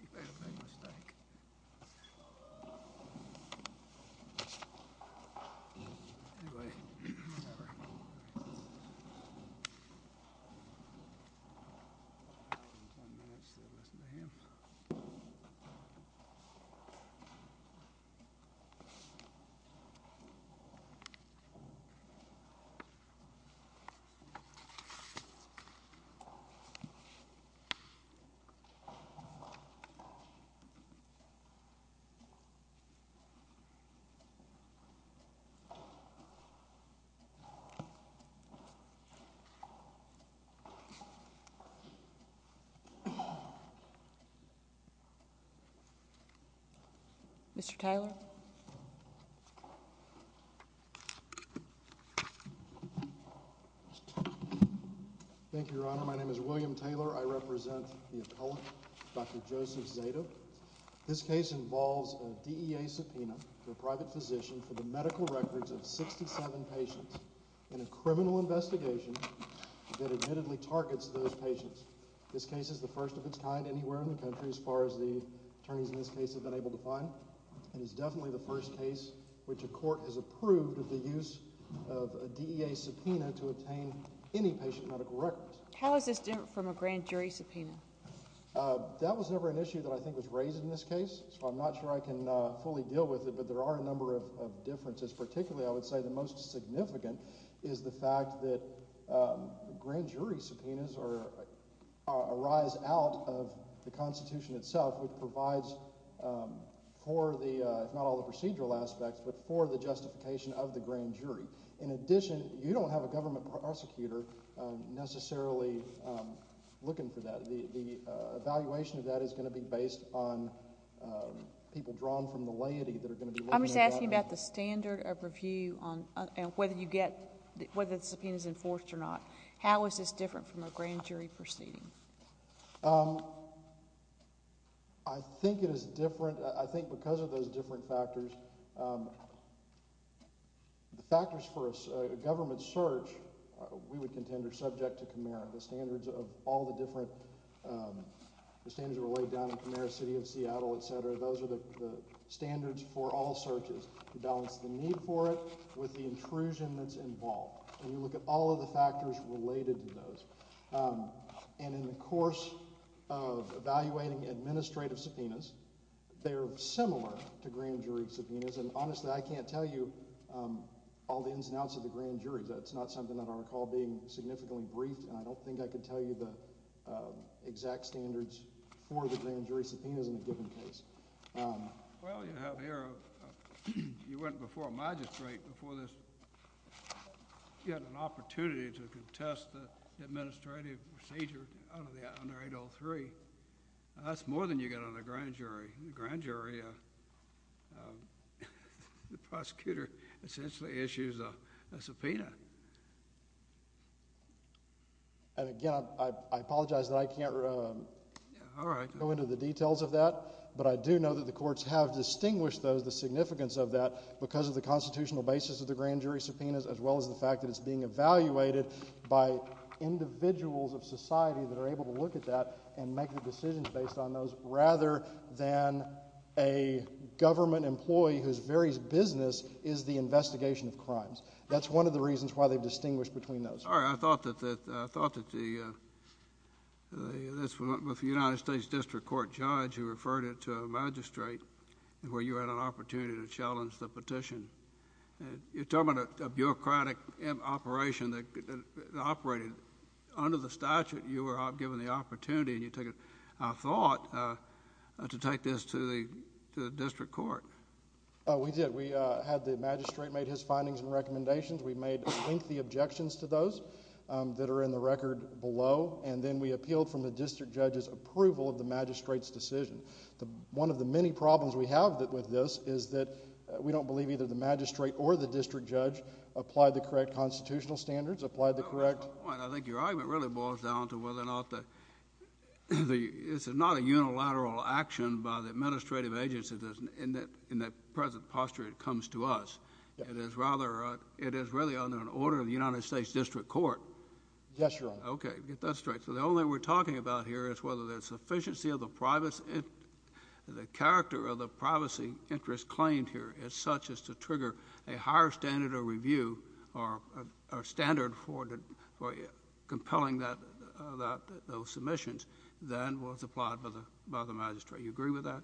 You've made a big mistake. Anyway, whatever. Ten minutes to listen to him. Mr. Joseph Zadeh. This case involves a D.E.A. subpoena for a private physician for the medical records of 67 patients in a criminal investigation that admittedly targets those patients. This case is the first of its kind anywhere in the country as far as the attorneys in this case have been able to find. It is definitely the first case which a court has approved of the use of a D.E.A. subpoena to obtain any patient medical records. How is this different from a grand jury subpoena? That was never an issue that I think was raised in this case, so I'm not sure I can fully deal with it, but there are a number of differences. Particularly I would say the most significant is the fact that grand jury subpoenas arise out of the Constitution itself, which provides for the, if not all the procedural aspects, but for the justification of the grand jury. In addition, you don't have a government prosecutor necessarily looking for that. The evaluation of that is going to be based on people drawn from the laity that are going to be looking at that. I'm just asking about the standard of review and whether you get, whether the subpoena is enforced or not. How is this different from a grand jury proceeding? I think it is different. I think because of those different factors, the factors for a government search we would contend are subject to all the different standards that were laid down in the mayor's city of Seattle, et cetera. Those are the standards for all searches. You balance the need for it with the intrusion that's involved. And you look at all of the factors related to those. And in the course of evaluating administrative subpoenas, they're similar to grand jury subpoenas, and honestly I can't tell you all the ins and outs of the grand jury. That's not something that I recall being significantly briefed, and I don't think I could tell you the exact standards for the grand jury subpoenas in a given case. Well, you have here, you went before a magistrate before this, you had an opportunity to contest the administrative procedure under 803. That's more than you get on a grand jury. The grand jury, the prosecutor essentially issues a subpoena. And again, I apologize that I can't go into the details of that, but I do know that the courts have distinguished those, the significance of that, because of the constitutional basis of the grand jury subpoenas as well as the fact that it's being evaluated by individuals of society that are able to look at that and make the decisions based on those rather than a government employee whose very business is the investigation of crimes. That's one of the reasons why they've distinguished between those. All right. I thought that the United States District Court judge who referred it to a magistrate where you had an opportunity to challenge the petition, you're talking about a bureaucratic operation that operated under the statute and you were given the opportunity and you took it, I thought, to take this to the district court. We did. We had the magistrate make his findings and recommendations. We made lengthy objections to those that are in the record below. And then we appealed from the district judge's approval of the magistrate's decision. One of the many problems we have with this is that we don't believe either the magistrate or the district judge applied the correct constitutional standards, applied the correct... I think your argument really boils down to whether or not the... this is not a unilateral action by the administrative agency in that present posture it comes to us. It is rather... it is really under an order of the United States District Court. Yes, Your Honor. Okay. Get that straight. So the only we're talking about here is whether the sufficiency of the privacy... the character of the privacy interest claimed here is such as to trigger a higher standard of review or standard for compelling that... those submissions than was applied by the magistrate. Do you agree with that?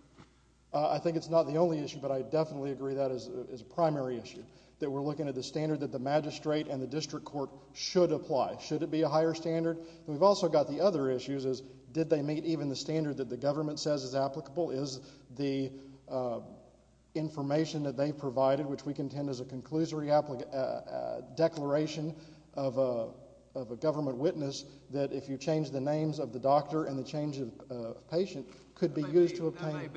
I think it's not the only issue, but I definitely agree that is a primary issue, that we're looking at the standard that the magistrate and the district court should apply. Should it be a higher standard? We've also got the other issues is did they meet even the standard that the government says is applicable? Is the information that they provided, which we contend is a conclusory declaration of a government witness that if you change the names of the doctor and the change of patient could be used to obtain... That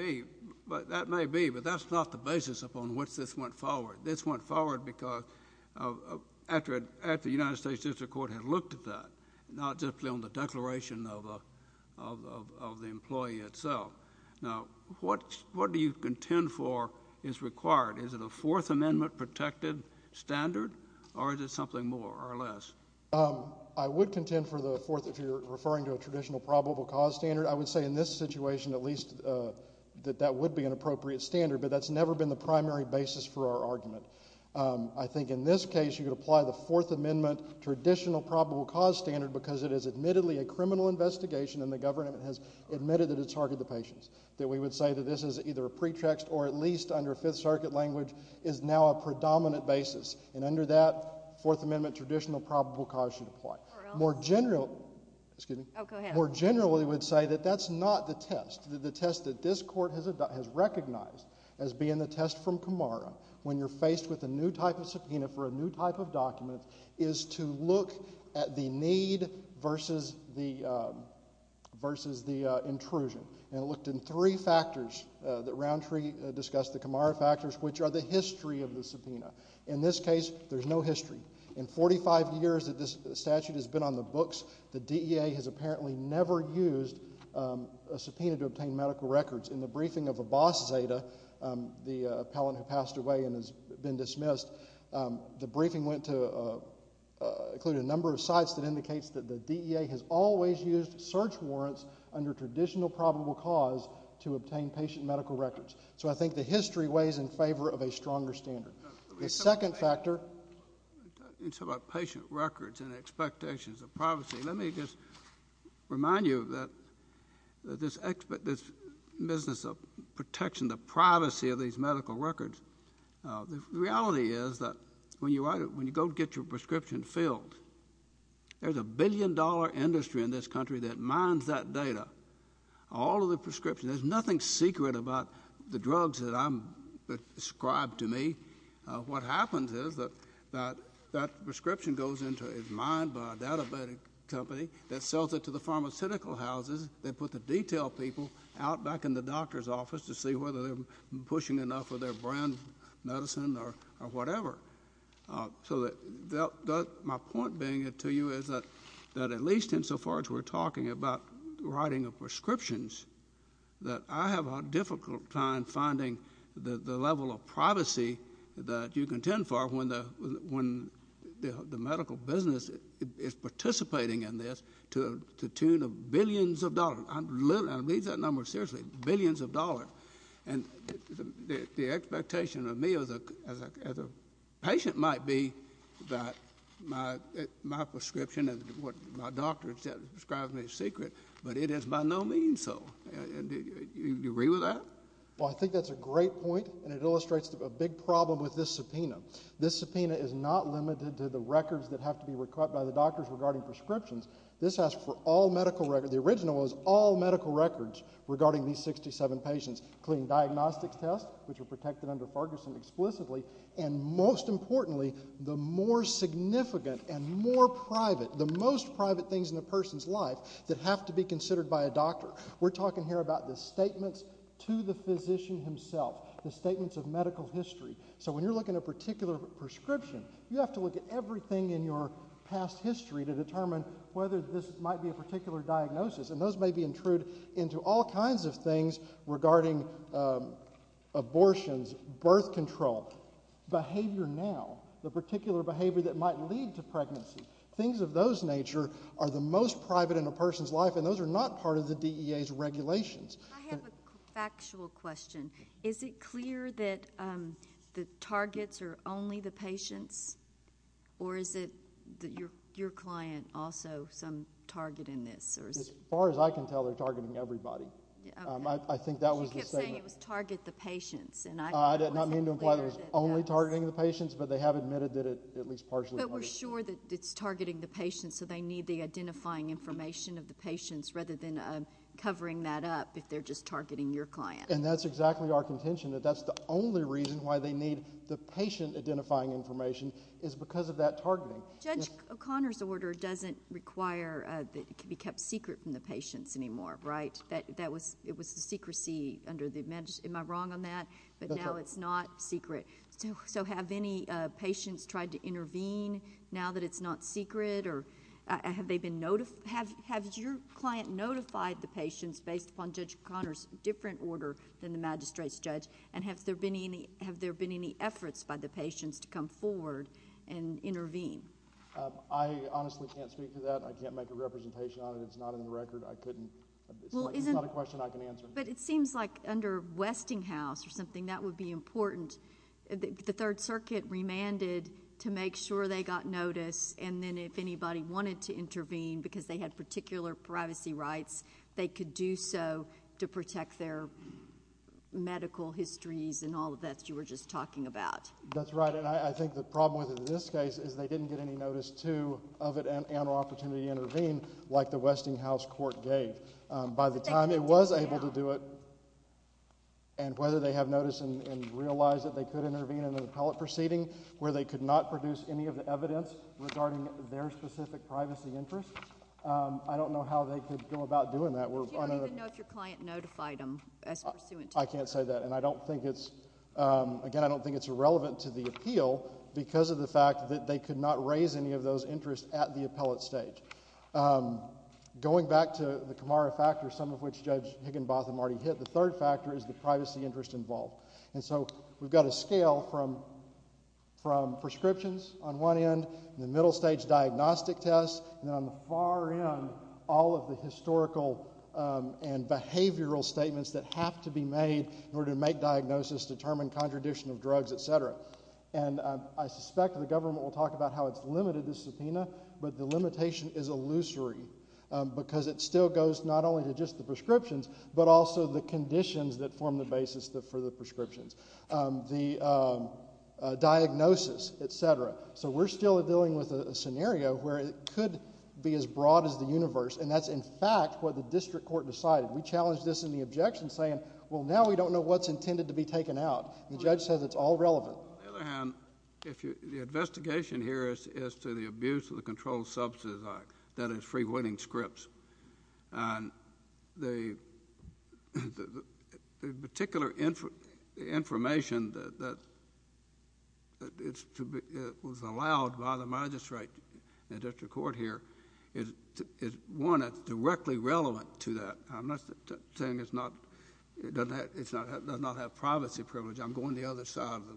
may be, but that's not the basis upon which this went forward. This went forward because after the United States District Court had looked at that, not just on the declaration of the employee itself. Now, what do you contend for is required? Is it a Fourth Amendment protected standard or is it something more or less? I would contend for the Fourth if you're referring to a traditional probable cause standard. I would say in this situation at least that that would be an appropriate standard, but that's never been the primary basis for our argument. I think in this case you could apply the Fourth Amendment traditional probable cause standard because it is admittedly a criminal investigation and the government has admitted that it targeted the patients, that we would say that this is either a pretext or at least under Fifth Circuit language is now a predominant basis, and under that Fourth Amendment traditional probable cause should apply. More generally... Excuse me. Oh, go ahead. More generally we would say that that's not the test. The test that this Court has recognized as being the test from Kamara when you're faced with a new type of subpoena for a new type of subpoena versus the intrusion, and it looked in three factors that Roundtree discussed, the Kamara factors, which are the history of the subpoena. In this case, there's no history. In 45 years that this statute has been on the books, the DEA has apparently never used a subpoena to obtain medical records. In the briefing of Abbas Zeta, the appellant who passed away and has been dismissed, the briefing went to, included a number of sites that have used subpoena warrants under traditional probable cause to obtain patient medical records. So I think the history weighs in favor of a stronger standard. The second factor... You talk about patient records and expectations of privacy. Let me just remind you that this business of protection, the privacy of these medical records, the reality is that when you go get your prescription filled, there's a billion-dollar industry in this country that mines that data, all of the prescriptions. There's nothing secret about the drugs that are prescribed to me. What happens is that that prescription goes into a mine by a data company that sells it to the pharmaceutical houses. They put the detailed people out back in the doctor's office to see whether they're pushing enough of their brand medicine or whatever. My point being to you is that at least insofar as we're talking about writing prescriptions, that I have a difficult time finding the level of privacy that you contend for when the medical business is participating in this to the tune of billions of dollars. I mean that number seriously, billions of dollars. The expectation of me as a patient might be that my prescription and what my doctor has prescribed me is secret, but it is by no means so. Do you agree with that? Well, I think that's a great point, and it illustrates a big problem with this subpoena. This subpoena is not limited to the records that have to be required by the doctors regarding prescriptions. This asks for all medical records. The original was all medical records regarding these 67 patients, clean diagnostics tests, which were protected under Ferguson explicitly, and most importantly, the more significant and more private, the most private things in a person's life that have to be considered by a doctor. We're talking here about the statements to the physician himself, the statements of medical history. So when you're looking at a particular prescription, you have to look at everything in your past history to determine whether this might be a diagnosis, and those may be intrude into all kinds of things regarding abortions, birth control, behavior now, the particular behavior that might lead to pregnancy. Things of those nature are the most private in a person's life, and those are not part of the DEA's regulations. I have a factual question. Is it clear that the targets are only the patients, or is it that your client also some target in this? As far as I can tell, they're targeting everybody. I think that was the statement. She kept saying it was target the patients. I did not mean to imply that it was only targeting the patients, but they have admitted that it at least partially targeted. But we're sure that it's targeting the patients, so they need the identifying information of the patients rather than covering that up if they're just targeting your client. And that's exactly our contention, that that's the only reason why they need the patient identifying information is because of that targeting. Judge O'Connor's order doesn't require that it can be kept secret from the patients anymore, right? It was the secrecy under the... am I wrong on that? Okay. But now it's not secret. So have any patients tried to intervene now that it's not secret, or have they been... have your client notified the patients based upon Judge O'Connor's different order than the magistrate's judge, and have there been any efforts by the patients to come forward and intervene? I honestly can't speak to that. I can't make a representation on it. It's not in the record. I couldn't... it's not a question I can answer. But it seems like under Westinghouse or something, that would be important. The Third Circuit remanded to make sure they got notice, and then if anybody wanted to intervene because they had particular privacy rights, they could do so to protect their medical histories and all of that you were just talking about. That's right. And I think the problem with this case is they didn't get any notice to of it and an opportunity to intervene like the Westinghouse court gave. By the time it was able to do it, and whether they have notice and realize that they could intervene in an appellate proceeding where they could not produce any of the evidence regarding their specific privacy interests, I don't know how they could go about doing that. But you don't even know if your client notified them as pursuant to that? I can't say that. And I don't think it's... again, I don't think it's relevant to the appeal because of the fact that they could not raise any of those interests at the appellate stage. Going back to the Camara factor, some of which Judge Higginbotham already hit, the third factor is the privacy interest involved. And so we've got a scale from prescriptions on one end, the middle stage is diagnostic tests, and on the far end, all of the historical and behavioral statements that have to be made in order to make diagnosis, determine contradiction of drugs, et cetera. And I suspect the government will talk about how it's limited this subpoena, but the limitation is illusory because it still goes not only to just the prescriptions but also the conditions that form the basis for the prescriptions, the diagnosis, et cetera. So we're still dealing with a scenario where it could be as broad as the universe, and that's, in fact, what the district court decided. We challenged this in the objection saying, well, now we don't know what's intended to be taken out. The judge says it's all relevant. On the other hand, the investigation here is to the abuse of the Controlled Substance Act, that is free winning scripts. And the particular information that was allowed by the magistrate in the district court here is one that's directly relevant to that. I'm not saying it does not have privacy privilege. I'm going the other side of the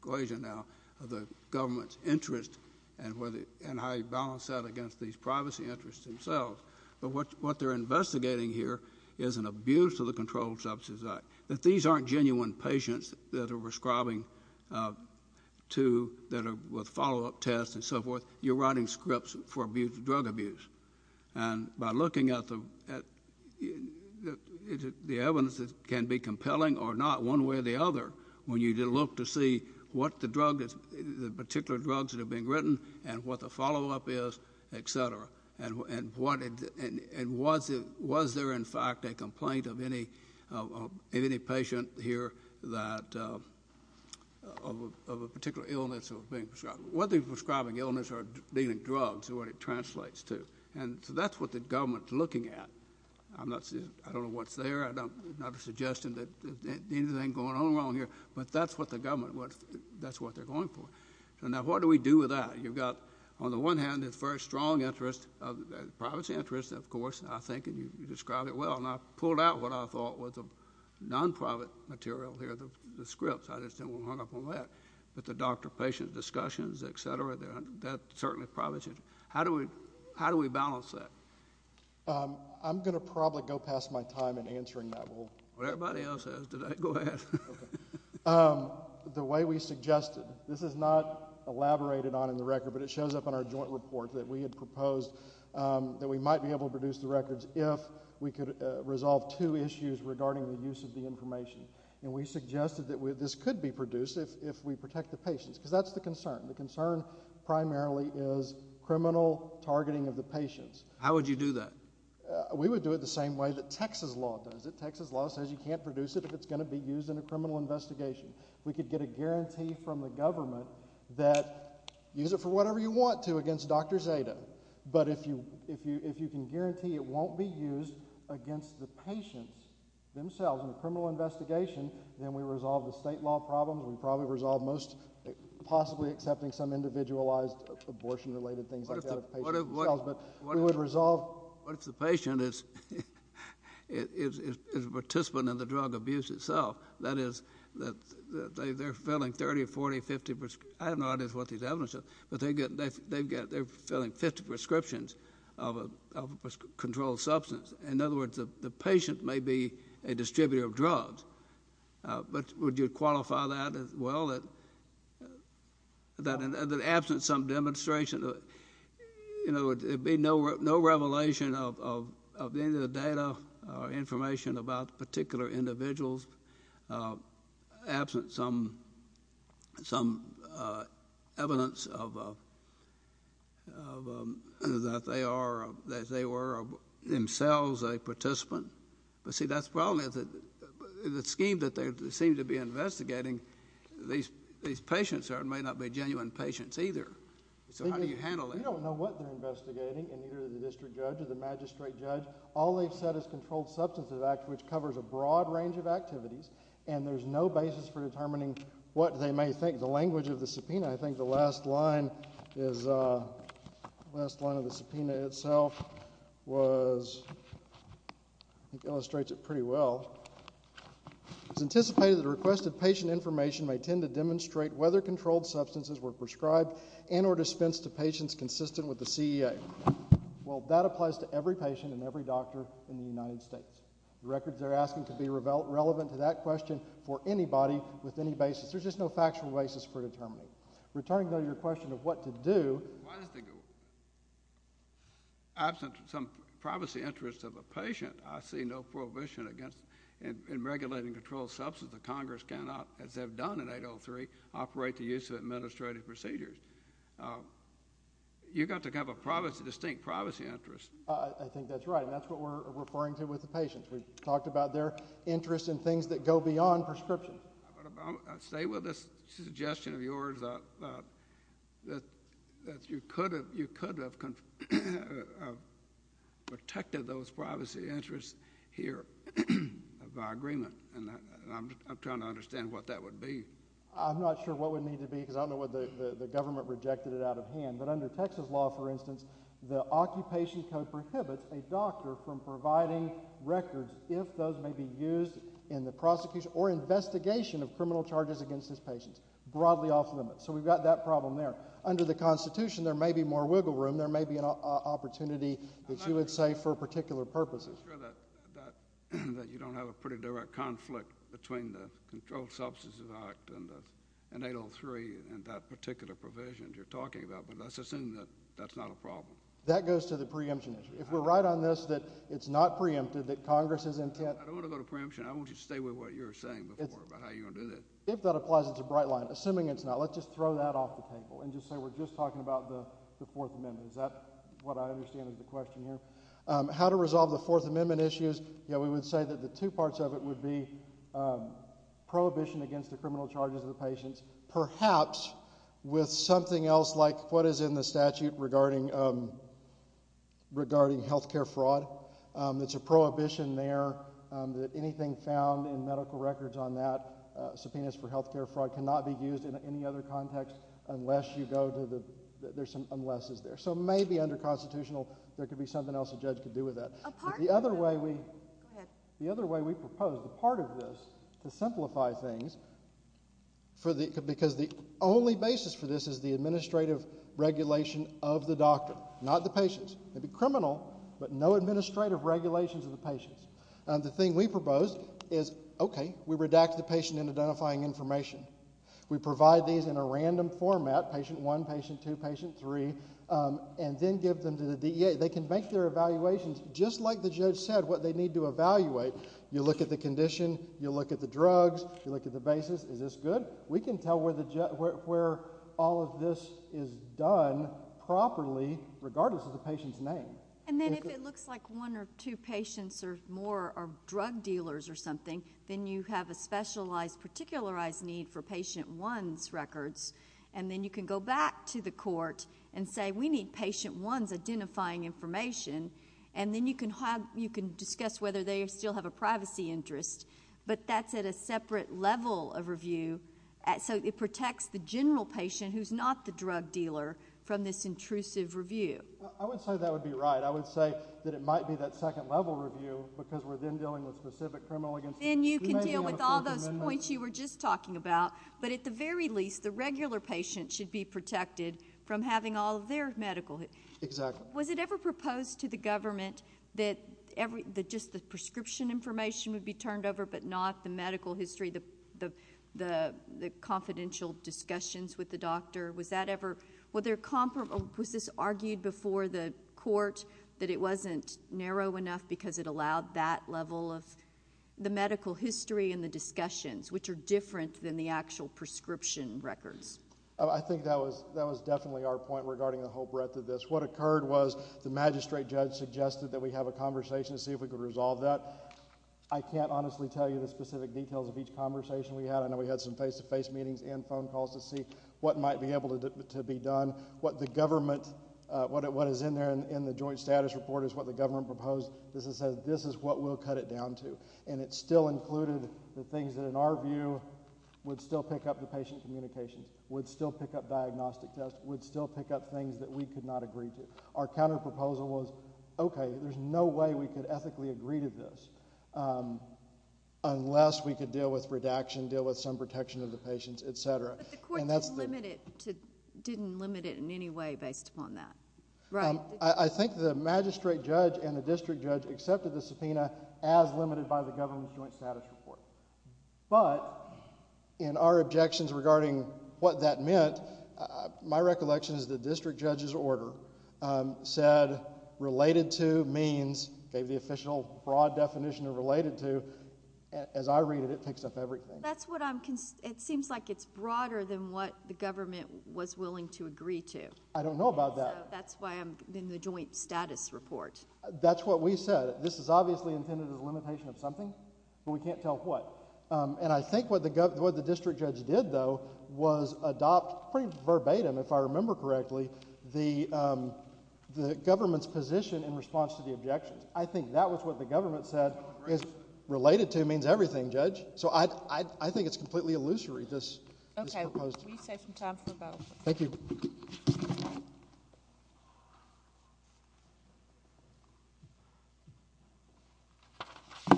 equation now of the government's interest and how you balance that against these privacy interests themselves. But what they're investigating here is an abuse of the Controlled Substance Act, that these aren't genuine patients that are prescribing to that are with follow-up tests and so forth. You're writing scripts for drug abuse. And by looking at the evidence that can be compelling or not one way or the other, what's written and what the follow-up is, et cetera. And was there, in fact, a complaint of any patient here of a particular illness that was being prescribed? Whether they were prescribing illness or dealing drugs is what it translates to. And so that's what the government's looking at. I don't know what's there. I'm not suggesting that anything's going on wrong here. But that's what the government, that's what they're going for. Now, what do we do with that? You've got, on the one hand, this very strong interest, privacy interest, of course, I think, and you described it well. And I pulled out what I thought was a non-private material here, the scripts. I just didn't want to hung up on that. But the doctor-patient discussions, et cetera, that's certainly privacy. How do we balance that? I'm going to probably go past my time in answering that. Well, everybody else has today. Go ahead. The way we suggested, this is not elaborated on in the record, but it shows up in our joint report that we had proposed that we might be able to produce the records if we could resolve two issues regarding the use of the information. And we suggested that this could be produced if we protect the patients. Because that's the concern. The concern primarily is criminal targeting of the patients. How would you do that? We would do it the same way that Texas law does it. Texas law says you can't produce it if it's going to be used in a criminal investigation. We could get a guarantee from the government that use it for whatever you want to against Dr. Zeta. But if you can guarantee it won't be used against the patients themselves in a criminal investigation, then we resolve the state law problems. We probably resolve most possibly accepting some individualized abortion related things like that of patients themselves. But if the patient is a participant in the drug abuse itself, that is, they're filling 30, 40, 50, I have no idea what these evidence is, but they're filling 50 prescriptions of a controlled substance. In other words, the patient may be a distributor of drugs. But would you qualify that as well, that in the absence of some demonstration, you know, there would be no revelation of any of the data or information about particular individuals, absent some evidence that they were themselves a participant? But, see, that's probably the scheme that they seem to be investigating. These patients may not be genuine patients either. So how do you handle that? We don't know what they're investigating in either the district judge or the magistrate judge. All they've said is controlled substance of the act, which covers a broad range of activities, and there's no basis for determining what they may think. The language of the subpoena, I think the last line is, the last line of the subpoena itself was, it illustrates it pretty well. It's anticipated that a request of patient information may tend to demonstrate whether controlled substances were prescribed and or dispensed to patients consistent with the CEA. Well, that applies to every patient and every doctor in the United States. The records they're asking could be relevant to that question for anybody with any basis. There's just no factual basis for determining. Returning, though, to your question of what to do, absent some privacy interests of a patient, I see no prohibition in regulating controlled substance. The Congress cannot, as they've done in 803, operate the use of administrative procedures. You've got to have a distinct privacy interest. I think that's right, and that's what we're referring to with the patients. We've talked about their interests in things that go beyond prescription. I'll stay with this suggestion of yours that you could have protected those interests here by agreement, and I'm trying to understand what that would be. I'm not sure what it would need to be, because I don't know what the government rejected it out of hand. But under Texas law, for instance, the occupation code prohibits a doctor from providing records if those may be used in the prosecution or investigation of criminal charges against his patients, broadly off limits. So we've got that problem there. Under the Constitution, there may be more wiggle room. There may be an opportunity that you would say for particular purposes. I'm sure that you don't have a pretty direct conflict between the Controlled Substances Act and 803 and that particular provision you're talking about, but let's assume that that's not a problem. That goes to the preemption issue. If we're right on this, that it's not preempted, that Congress's intent... I don't want to go to preemption. I want you to stay with what you were saying before about how you're going to do this. If that applies, it's a bright line. Assuming it's not, let's just throw that off the table and just say we're just talking about the Fourth Amendment. Is that what I understand is the question here? How to resolve the Fourth Amendment issues? Yeah, we would say that the two parts of it would be prohibition against the criminal charges of the patients, perhaps with something else like what is in the statute regarding health care fraud. It's a prohibition there that anything found in medical records on that, subpoenas for health care fraud, cannot be used in any other context unless you go to the... unless it's there. So maybe under constitutional, there could be something else a judge could do with that. The other way we... Go ahead. The other way we propose the part of this to simplify things, because the only basis for this is the administrative regulation of the doctor, not the patients. It would be criminal, but no administrative regulations of the patients. The thing we propose is, okay, we redact the patient in identifying information. We provide these in a random format, patient one, patient two, patient three, and then give them to the DEA. They can make their evaluations just like the judge said, what they need to evaluate. You look at the condition. You look at the drugs. You look at the basis. Is this good? We can tell where all of this is done properly, regardless of the patient's name. And then if it looks like one or two patients or more are drug dealers or something, then you have a specialized, particularized need for patient one's records. And then you can go back to the court and say, we need patient one's identifying information. And then you can discuss whether they still have a privacy interest. But that's at a separate level of review. So it protects the general patient, who's not the drug dealer, from this intrusive review. I would say that would be right. I would say that it might be that second level review, because we're then dealing with a specific criminal agency. Then you can deal with all those points you were just talking about. But at the very least, the regular patient should be protected from having all of their medical. Exactly. Was it ever proposed to the government that just the prescription information would be turned over but not the medical history, the confidential discussions with the doctor? Was this argued before the court that it wasn't narrow enough because it allowed that level of the medical history and the discussions, which are different than the actual prescription records? I think that was definitely our point regarding the whole breadth of this. What occurred was the magistrate judge suggested that we have a conversation to see if we could resolve that. I can't honestly tell you the specific details of each conversation we had. I know we had some face-to-face meetings and phone calls to see what might be able to be done. What is in there in the joint status report is what the government proposed. This is what we'll cut it down to. And it still included the things that, in our view, would still pick up the patient communications, would still pick up diagnostic tests, would still pick up things that we could not agree to. Our counterproposal was, okay, there's no way we could ethically agree to this unless we could deal with redaction, deal with some protection of the patients, et cetera. But the court didn't limit it in any way based upon that, right? I think the magistrate judge and the district judge accepted the subpoena as limited by the government's joint status report. But in our objections regarding what that meant, my recollection is the district judge's order said, related to means, gave the official broad definition of related to. As I read it, it picks up everything. It seems like it's broader than what the government was willing to agree to. I don't know about that. That's why I'm in the joint status report. That's what we said. This is obviously intended as a limitation of something, but we can't tell what. And I think what the district judge did, though, was adopt pretty verbatim, if I remember correctly, the government's position in response to the objections. I think that was what the government said. Related to means everything, Judge. So I think it's completely illusory, this proposal. Okay. We save some time for a vote. Thank you. Good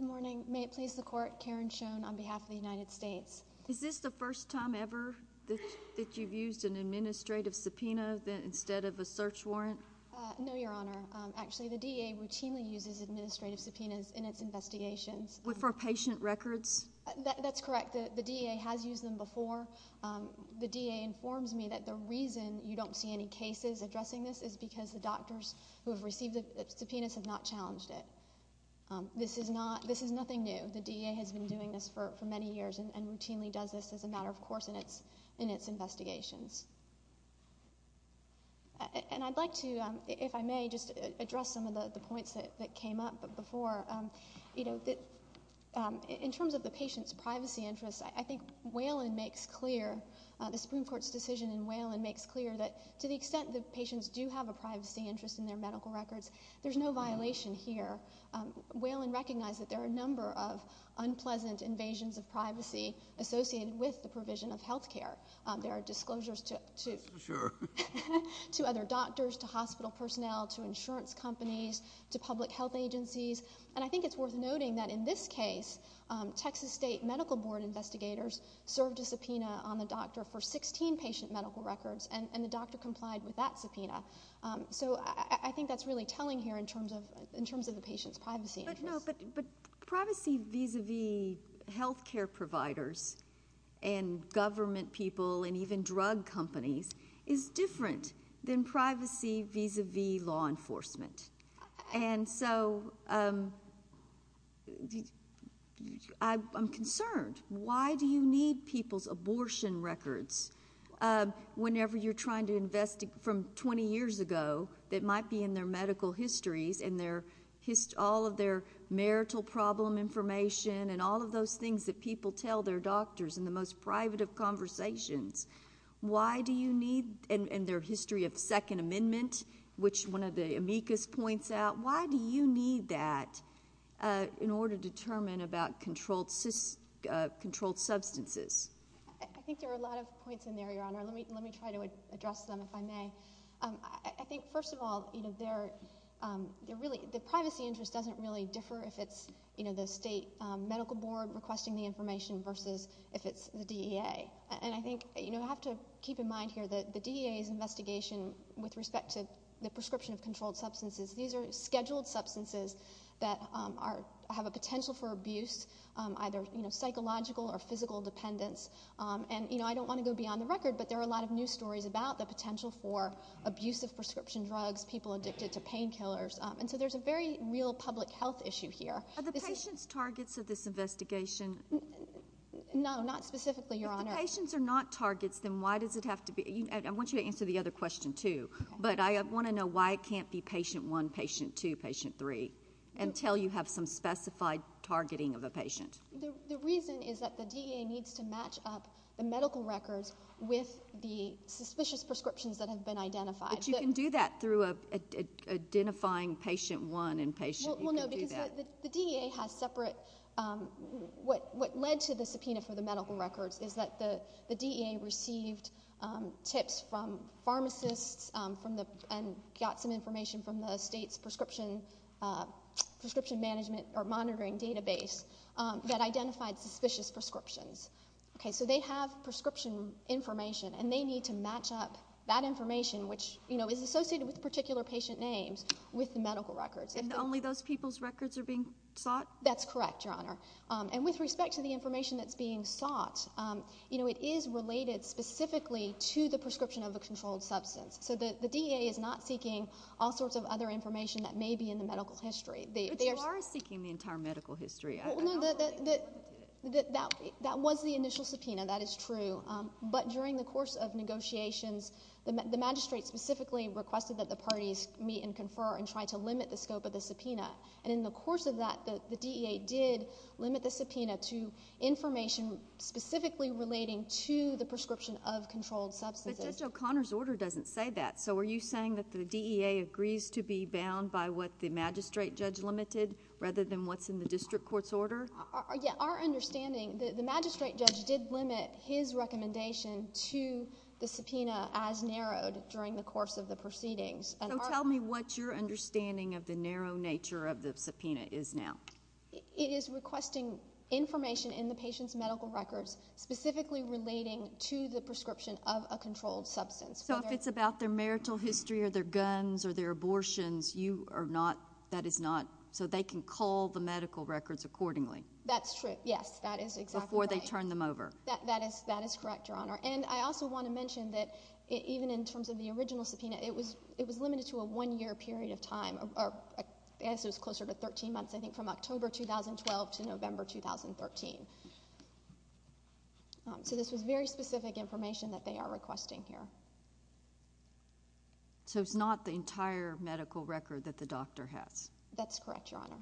morning. May it please the Court, Karen Schoen on behalf of the United States. Is this the first time ever that you've used an administrative subpoena instead of a search warrant? No, Your Honor. Actually, the DA routinely uses administrative subpoenas in its investigations. For patient records? That's correct. The DA has used them before. The DA informs me that the reason you don't see any cases addressing this is because the doctors who have received the subpoenas have not challenged it. This is nothing new. The DA has been doing this for many years and routinely does this as a matter of course in its investigations. And I'd like to, if I may, just address some of the points that came up before. In terms of the patient's privacy interests, I think Whelan makes clear, the Supreme Court's decision in Whelan makes clear, that to the extent that patients do have a privacy interest in their medical records, there's no violation here. Whelan recognized that there are a number of unpleasant invasions of privacy associated with the provision of health care. There are disclosures to other doctors, to hospital personnel, to insurance companies, to public health agencies. And I think it's worth noting that in this case, Texas State Medical Board investigators served a subpoena on the doctor for 16 patient medical records, and the doctor complied with that subpoena. So I think that's really telling here in terms of the patient's privacy interests. But privacy vis-a-vis health care providers and government people and even drug companies is different than privacy vis-a-vis law enforcement. And so I'm concerned. Why do you need people's abortion records whenever you're trying to invest from 20 years ago that might be in their medical histories and all of their marital problem information and all of those things that people tell their doctors in the most private of conversations? Why do you need in their history of Second Amendment, which one of the amicus points out, why do you need that in order to determine about controlled substances? I think there are a lot of points in there, Your Honor. Let me try to address them, if I may. I think, first of all, the privacy interest doesn't really differ if it's the state medical board requesting the information versus if it's the DEA. And I think you have to keep in mind here that the DEA's investigation with respect to the prescription of controlled substances, these are scheduled substances that have a potential for abuse, either psychological or physical dependence. And I don't want to go beyond the record, but there are a lot of news stories about the potential for abusive prescription drugs, people addicted to painkillers. And so there's a very real public health issue here. Are the patients targets of this investigation? No, not specifically, Your Honor. If the patients are not targets, then why does it have to be? I want you to answer the other question, too. But I want to know why it can't be patient one, patient two, patient three, until you have some specified targeting of a patient. The reason is that the DEA needs to match up the medical records with the suspicious prescriptions that have been identified. But you can do that through identifying patient one and patient... Well, no, because the DEA has separate... What led to the subpoena for the medical records is that the DEA received tips from pharmacists and got some information from the state's prescription management or monitoring database that identified suspicious prescriptions. So they have prescription information, and they need to match up that information, which is associated with particular patient names, with the medical records. And only those people's records are being sought? That's correct, Your Honor. And with respect to the information that's being sought, it is related specifically to the prescription of a controlled substance. So the DEA is not seeking all sorts of other information that may be in the medical history. But you are seeking the entire medical history. Well, no, that was the initial subpoena, that is true. But during the course of negotiations, the magistrate specifically requested that the parties meet and confer and try to limit the scope of the subpoena. And in the course of that, the DEA did limit the subpoena to information specifically relating to the prescription of controlled substances. But Judge O'Connor's order doesn't say that. So are you saying that the DEA agrees to be bound by what the magistrate judge limited rather than what's in the district court's order? Our understanding, the magistrate judge did limit his recommendation to the subpoena as narrowed during the course of the proceedings. So tell me what your understanding of the narrow nature of the subpoena is now. It is requesting information in the patient's medical records specifically relating to the prescription of a controlled substance. So if it's about their marital history or their guns or their abortions, you are not, that is not, so they can cull the medical records accordingly. That's true, yes, that is exactly right. Before they turn them over. That is correct, Your Honor. And I also want to mention that even in terms of the original subpoena, it was limited to a one-year period of time. I guess it was closer to 13 months, I think, from October 2012 to November 2013. So this was very specific information that they are requesting here. So it's not the entire medical record that the doctor has. That's correct, Your Honor.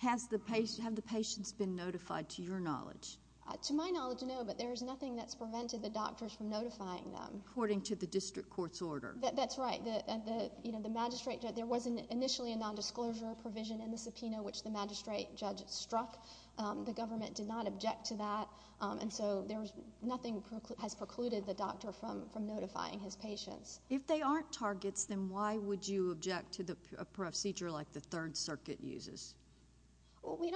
Have the patients been notified, to your knowledge? To my knowledge, no, but there is nothing that's prevented the doctors from notifying them. According to the district court's order. That's right. There was initially a nondisclosure provision in the subpoena, which the magistrate judge struck. The government did not object to that. And so nothing has precluded the doctor from notifying his patients. If they aren't targets, then why would you object to a procedure like the Third Circuit uses? We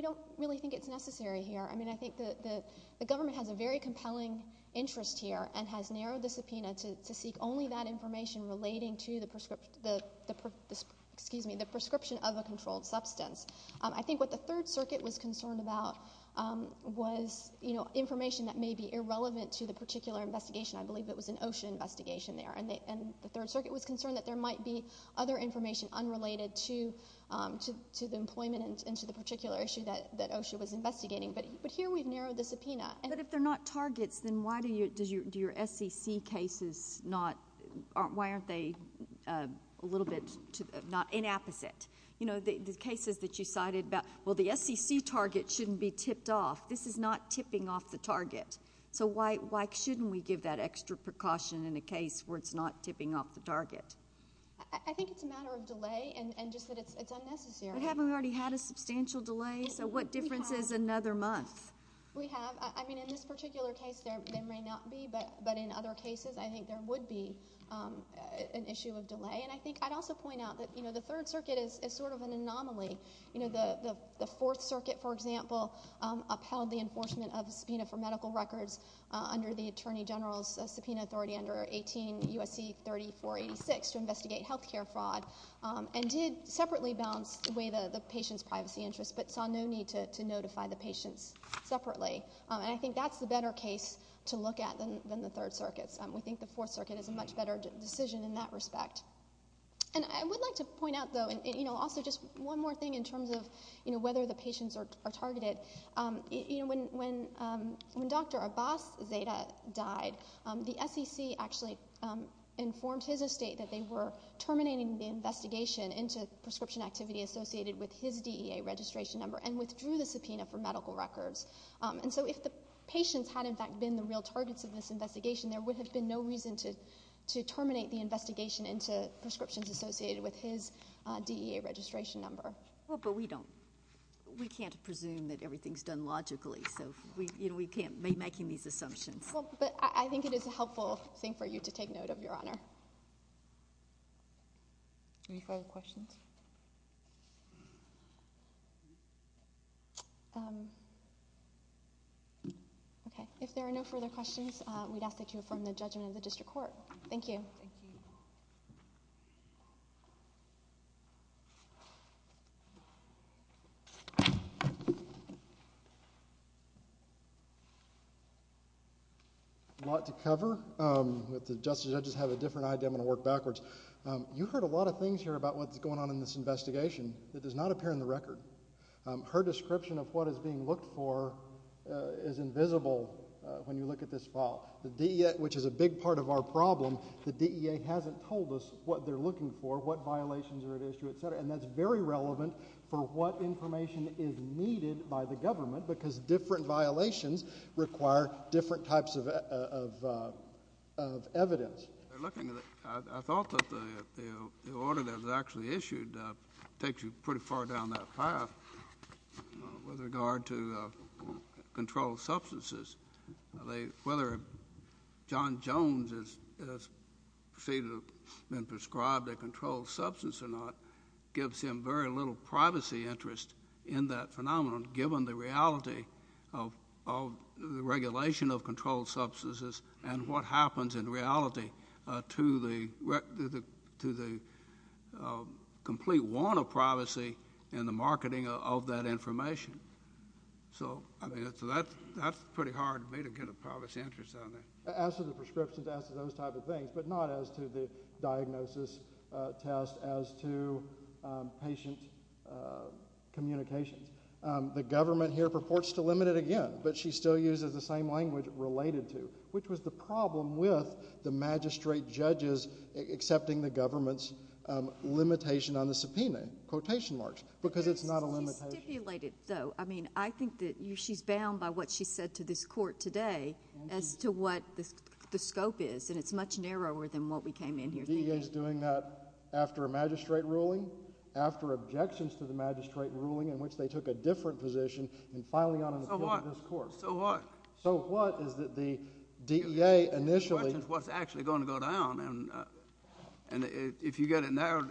don't really think it's necessary here. I mean, I think the government has a very compelling interest here and has narrowed the subpoena to seek only that information relating to the prescription of a controlled substance. I think what the Third Circuit was concerned about was information that may be irrelevant to the particular investigation. I believe it was an OSHA investigation there. And the Third Circuit was concerned that there might be other information unrelated to the employment and to the particular issue that OSHA was investigating. But here we've narrowed the subpoena. But if they're not targets, then why do your SEC cases not— why aren't they a little bit inapposite? You know, the cases that you cited about, well, the SEC target shouldn't be tipped off. This is not tipping off the target. So why shouldn't we give that extra precaution in a case where it's not tipping off the target? I think it's a matter of delay and just that it's unnecessary. But haven't we already had a substantial delay? So what difference is another month? We have. I mean, in this particular case, there may not be. But in other cases, I think there would be an issue of delay. And I think I'd also point out that, you know, the Third Circuit is sort of an anomaly. You know, the Fourth Circuit, for example, upheld the enforcement of the subpoena for medical records under the Attorney General's subpoena authority under 18 U.S.C. 3486 to investigate health care fraud and did separately balance the way the patient's privacy interests but saw no need to notify the patients separately. And I think that's the better case to look at than the Third Circuit's. We think the Fourth Circuit is a much better decision in that respect. And I would like to point out, though, and, you know, also just one more thing in terms of, you know, whether the patients are targeted. You know, when Dr. Abbas Zeta died, the SEC actually informed his estate that they were terminating the investigation into prescription activity associated with his DEA registration number and withdrew the subpoena for medical records. And so if the patients had, in fact, been the real targets of this investigation, there would have been no reason to terminate the investigation into prescriptions associated with his DEA registration number. Well, but we don't... We can't presume that everything's done logically, so, you know, we can't be making these assumptions. Well, but I think it is a helpful thing for you to take note of, Your Honor. Any further questions? Okay, if there are no further questions, we'd ask that you affirm the judgment of the district court. A lot to cover. With the justice, I just have a different idea. I'm going to work backwards. You heard a lot of things here about what's going on in this investigation. It does not appear in the record. Her description of what is being looked for is invisible when you look at this file. The DEA, which is a big part of our problem, the DEA hasn't told us what they're looking for, what violations are at issue, et cetera, and that's very relevant for what information is needed by the government because different violations require different types of evidence. They're looking at... I thought that the order that was actually issued takes you pretty far down that path with regard to controlled substances. Whether John Jones has been prescribed a controlled substance or not gives him very little privacy interest in that phenomenon given the reality of the regulation of controlled substances and what happens in reality to the complete want of privacy in the marketing of that information. So, I mean, that's pretty hard for me to get a privacy interest on that. As to the prescriptions, as to those type of things, but not as to the diagnosis test, as to patient communications. The government here purports to limit it again, but she still uses the same language, related to, which was the problem with the magistrate judges accepting the government's limitation on the subpoena, quotation marks, because it's not a limitation. She stipulated, though, I mean, I think that she's bound by what she said to this court today as to what the scope is, and it's much narrower than what we came in here thinking. DEA's doing that after a magistrate ruling, after objections to the magistrate ruling in which they took a different position in filing on an appeal to this court. So what? So what is that the DEA initially... The question is what's actually going to go down, and if you get it narrowed,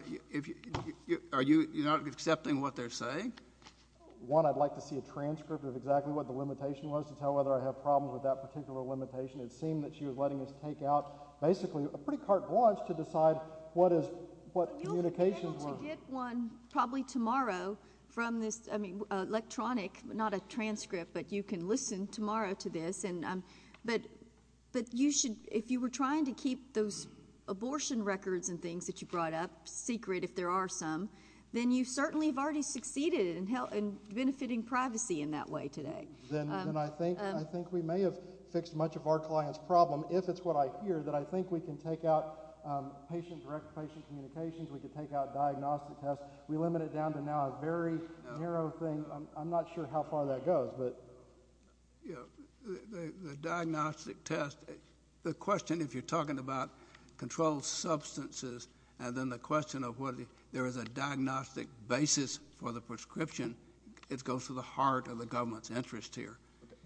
are you not accepting what they're saying? One, I'd like to see a transcript of exactly what the limitation was to tell whether I have problems with that particular limitation. It seemed that she was letting us take out basically a pretty carte blanche to decide what communications were. We'll get one probably tomorrow from this electronic, not a transcript, but you can listen tomorrow to this. But you should... If you were trying to keep those abortion records and things that you brought up secret, if there are some, then you certainly have already succeeded in benefiting privacy in that way today. Then I think we may have fixed much of our client's problem, if it's what I hear, that I think we can take out patient-directed patient communications, we can take out diagnostic tests. We limit it down to now a very narrow thing. I'm not sure how far that goes, but... Yeah, the diagnostic test... The question, if you're talking about controlled substances and then the question of whether there is a diagnostic basis for the prescription, it goes to the heart of the government's interest here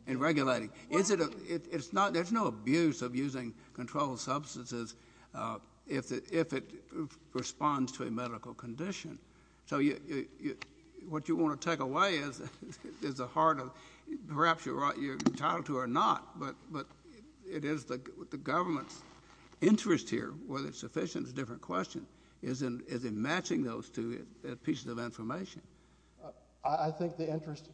in regulating. There's no abuse of using controlled substances if it responds to a medical condition. So what you want to take away is the heart of... Perhaps you're entitled to or not, but it is the government's interest here, whether it's sufficient is a different question, is in matching those two pieces of information. I think the interest,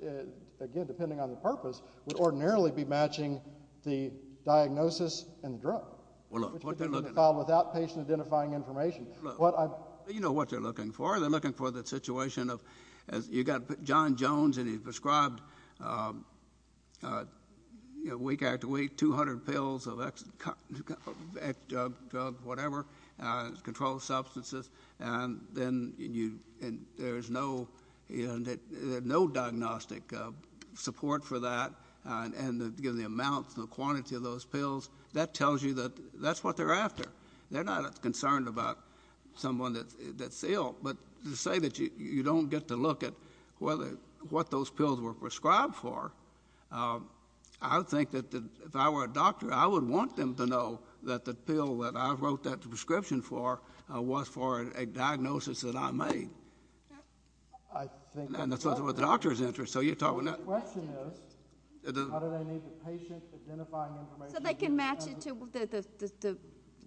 again, depending on the purpose, would ordinarily be matching the diagnosis and the drug. Which would be a problem without patient-identifying information. You know what they're looking for. They're looking for the situation of... You've got John Jones and he's prescribed, week after week, 200 pills of X drug, whatever, controlled substances, and then there's no diagnostic support for that, and the amount, the quantity of those pills, that tells you that that's what they're after. They're not concerned about someone that's ill. But to say that you don't get to look at what those pills were prescribed for, I would think that if I were a doctor, I would want them to know that the pill that I wrote that prescription for was for a diagnosis that I made. And that's what the doctor's interest. The question is, how do they need the patient-identifying information... So they can match it to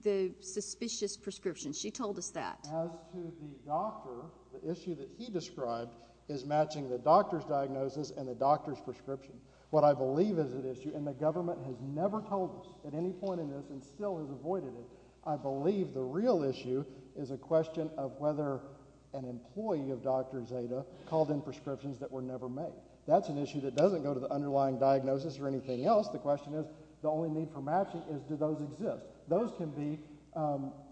the suspicious prescription. She told us that. As to the doctor, the issue that he described is matching the doctor's diagnosis and the doctor's prescription. What I believe is at issue, and the government has never told us at any point in this, and still has avoided it, I believe the real issue is a question of whether an employee of Dr. Zeta called in prescriptions that were never made. That's an issue that doesn't go to the underlying diagnosis or anything else. The question is, the only need for matching is, do those exist? Those can be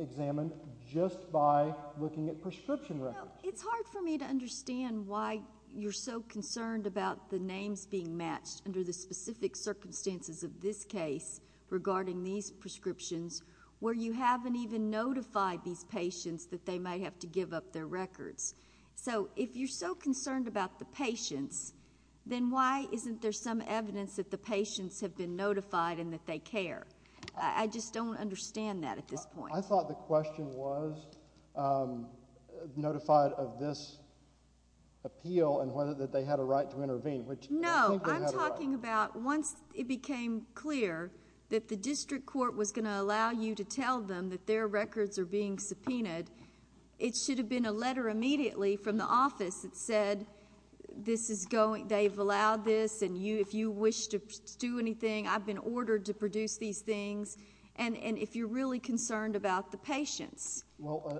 examined just by looking at prescription records. You know, it's hard for me to understand why you're so concerned about the names being matched under the specific circumstances of this case regarding these prescriptions, where you haven't even notified these patients that they might have to give up their records. So if you're so concerned about the patients, then why isn't there some evidence that the patients have been notified and that they care? I just don't understand that at this point. I thought the question was notified of this appeal and whether they had a right to intervene, which I think they had a right. No, I'm talking about once it became clear that the district court was going to allow you to tell them that their records are being subpoenaed, it should have been a letter immediately from the office that said, they've allowed this, and if you wish to do anything, I've been ordered to produce these things, and if you're really concerned about the patients.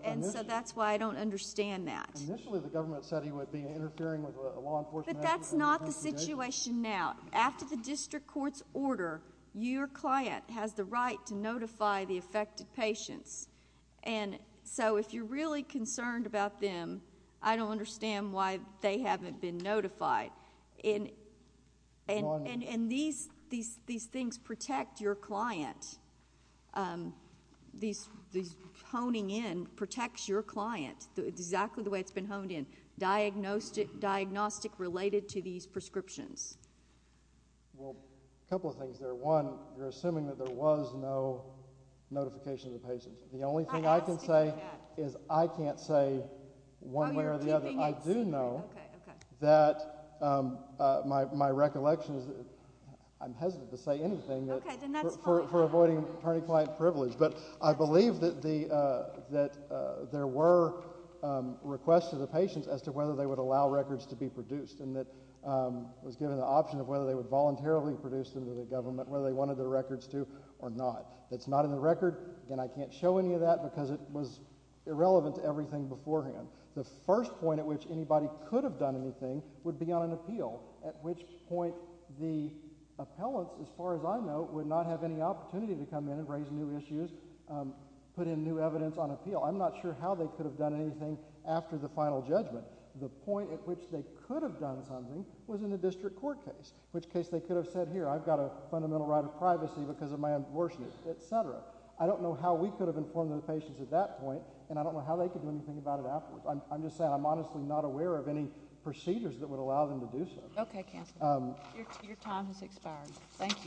And so that's why I don't understand that. Initially the government said he would be interfering with a law enforcement agency. But that's not the situation now. After the district court's order, your client has the right to notify the affected patients. And so if you're really concerned about them, I don't understand why they haven't been notified. And these things protect your client. These honing in protects your client, exactly the way it's been honed in, diagnostic related to these prescriptions. Well, a couple of things there. One, you're assuming that there was no notification of the patients. The only thing I can say is I can't say one way or the other. I do know that my recollection is that I'm hesitant to say anything for avoiding attorney-client privilege. But I believe that there were requests to the patients as to whether they would allow records to be produced and that it was given the option of whether they would voluntarily produce them to the government, whether they wanted their records to or not. That's not in the record, and I can't show any of that because it was irrelevant to everything beforehand. The first point at which anybody could have done anything would be on an appeal, at which point the appellants, as far as I know, would not have any opportunity to come in and raise new issues, put in new evidence on appeal. I'm not sure how they could have done anything after the final judgment. The point at which they could have done something was in the district court case, in which case they could have said, here, I've got a fundamental right of privacy because of my abortion, et cetera. I don't know how we could have informed the patients at that point, and I don't know how they could do anything about it afterwards. I'm just saying I'm honestly not aware of any procedures that would allow them to do so. Okay, Counselor. Your time has expired. Thank you.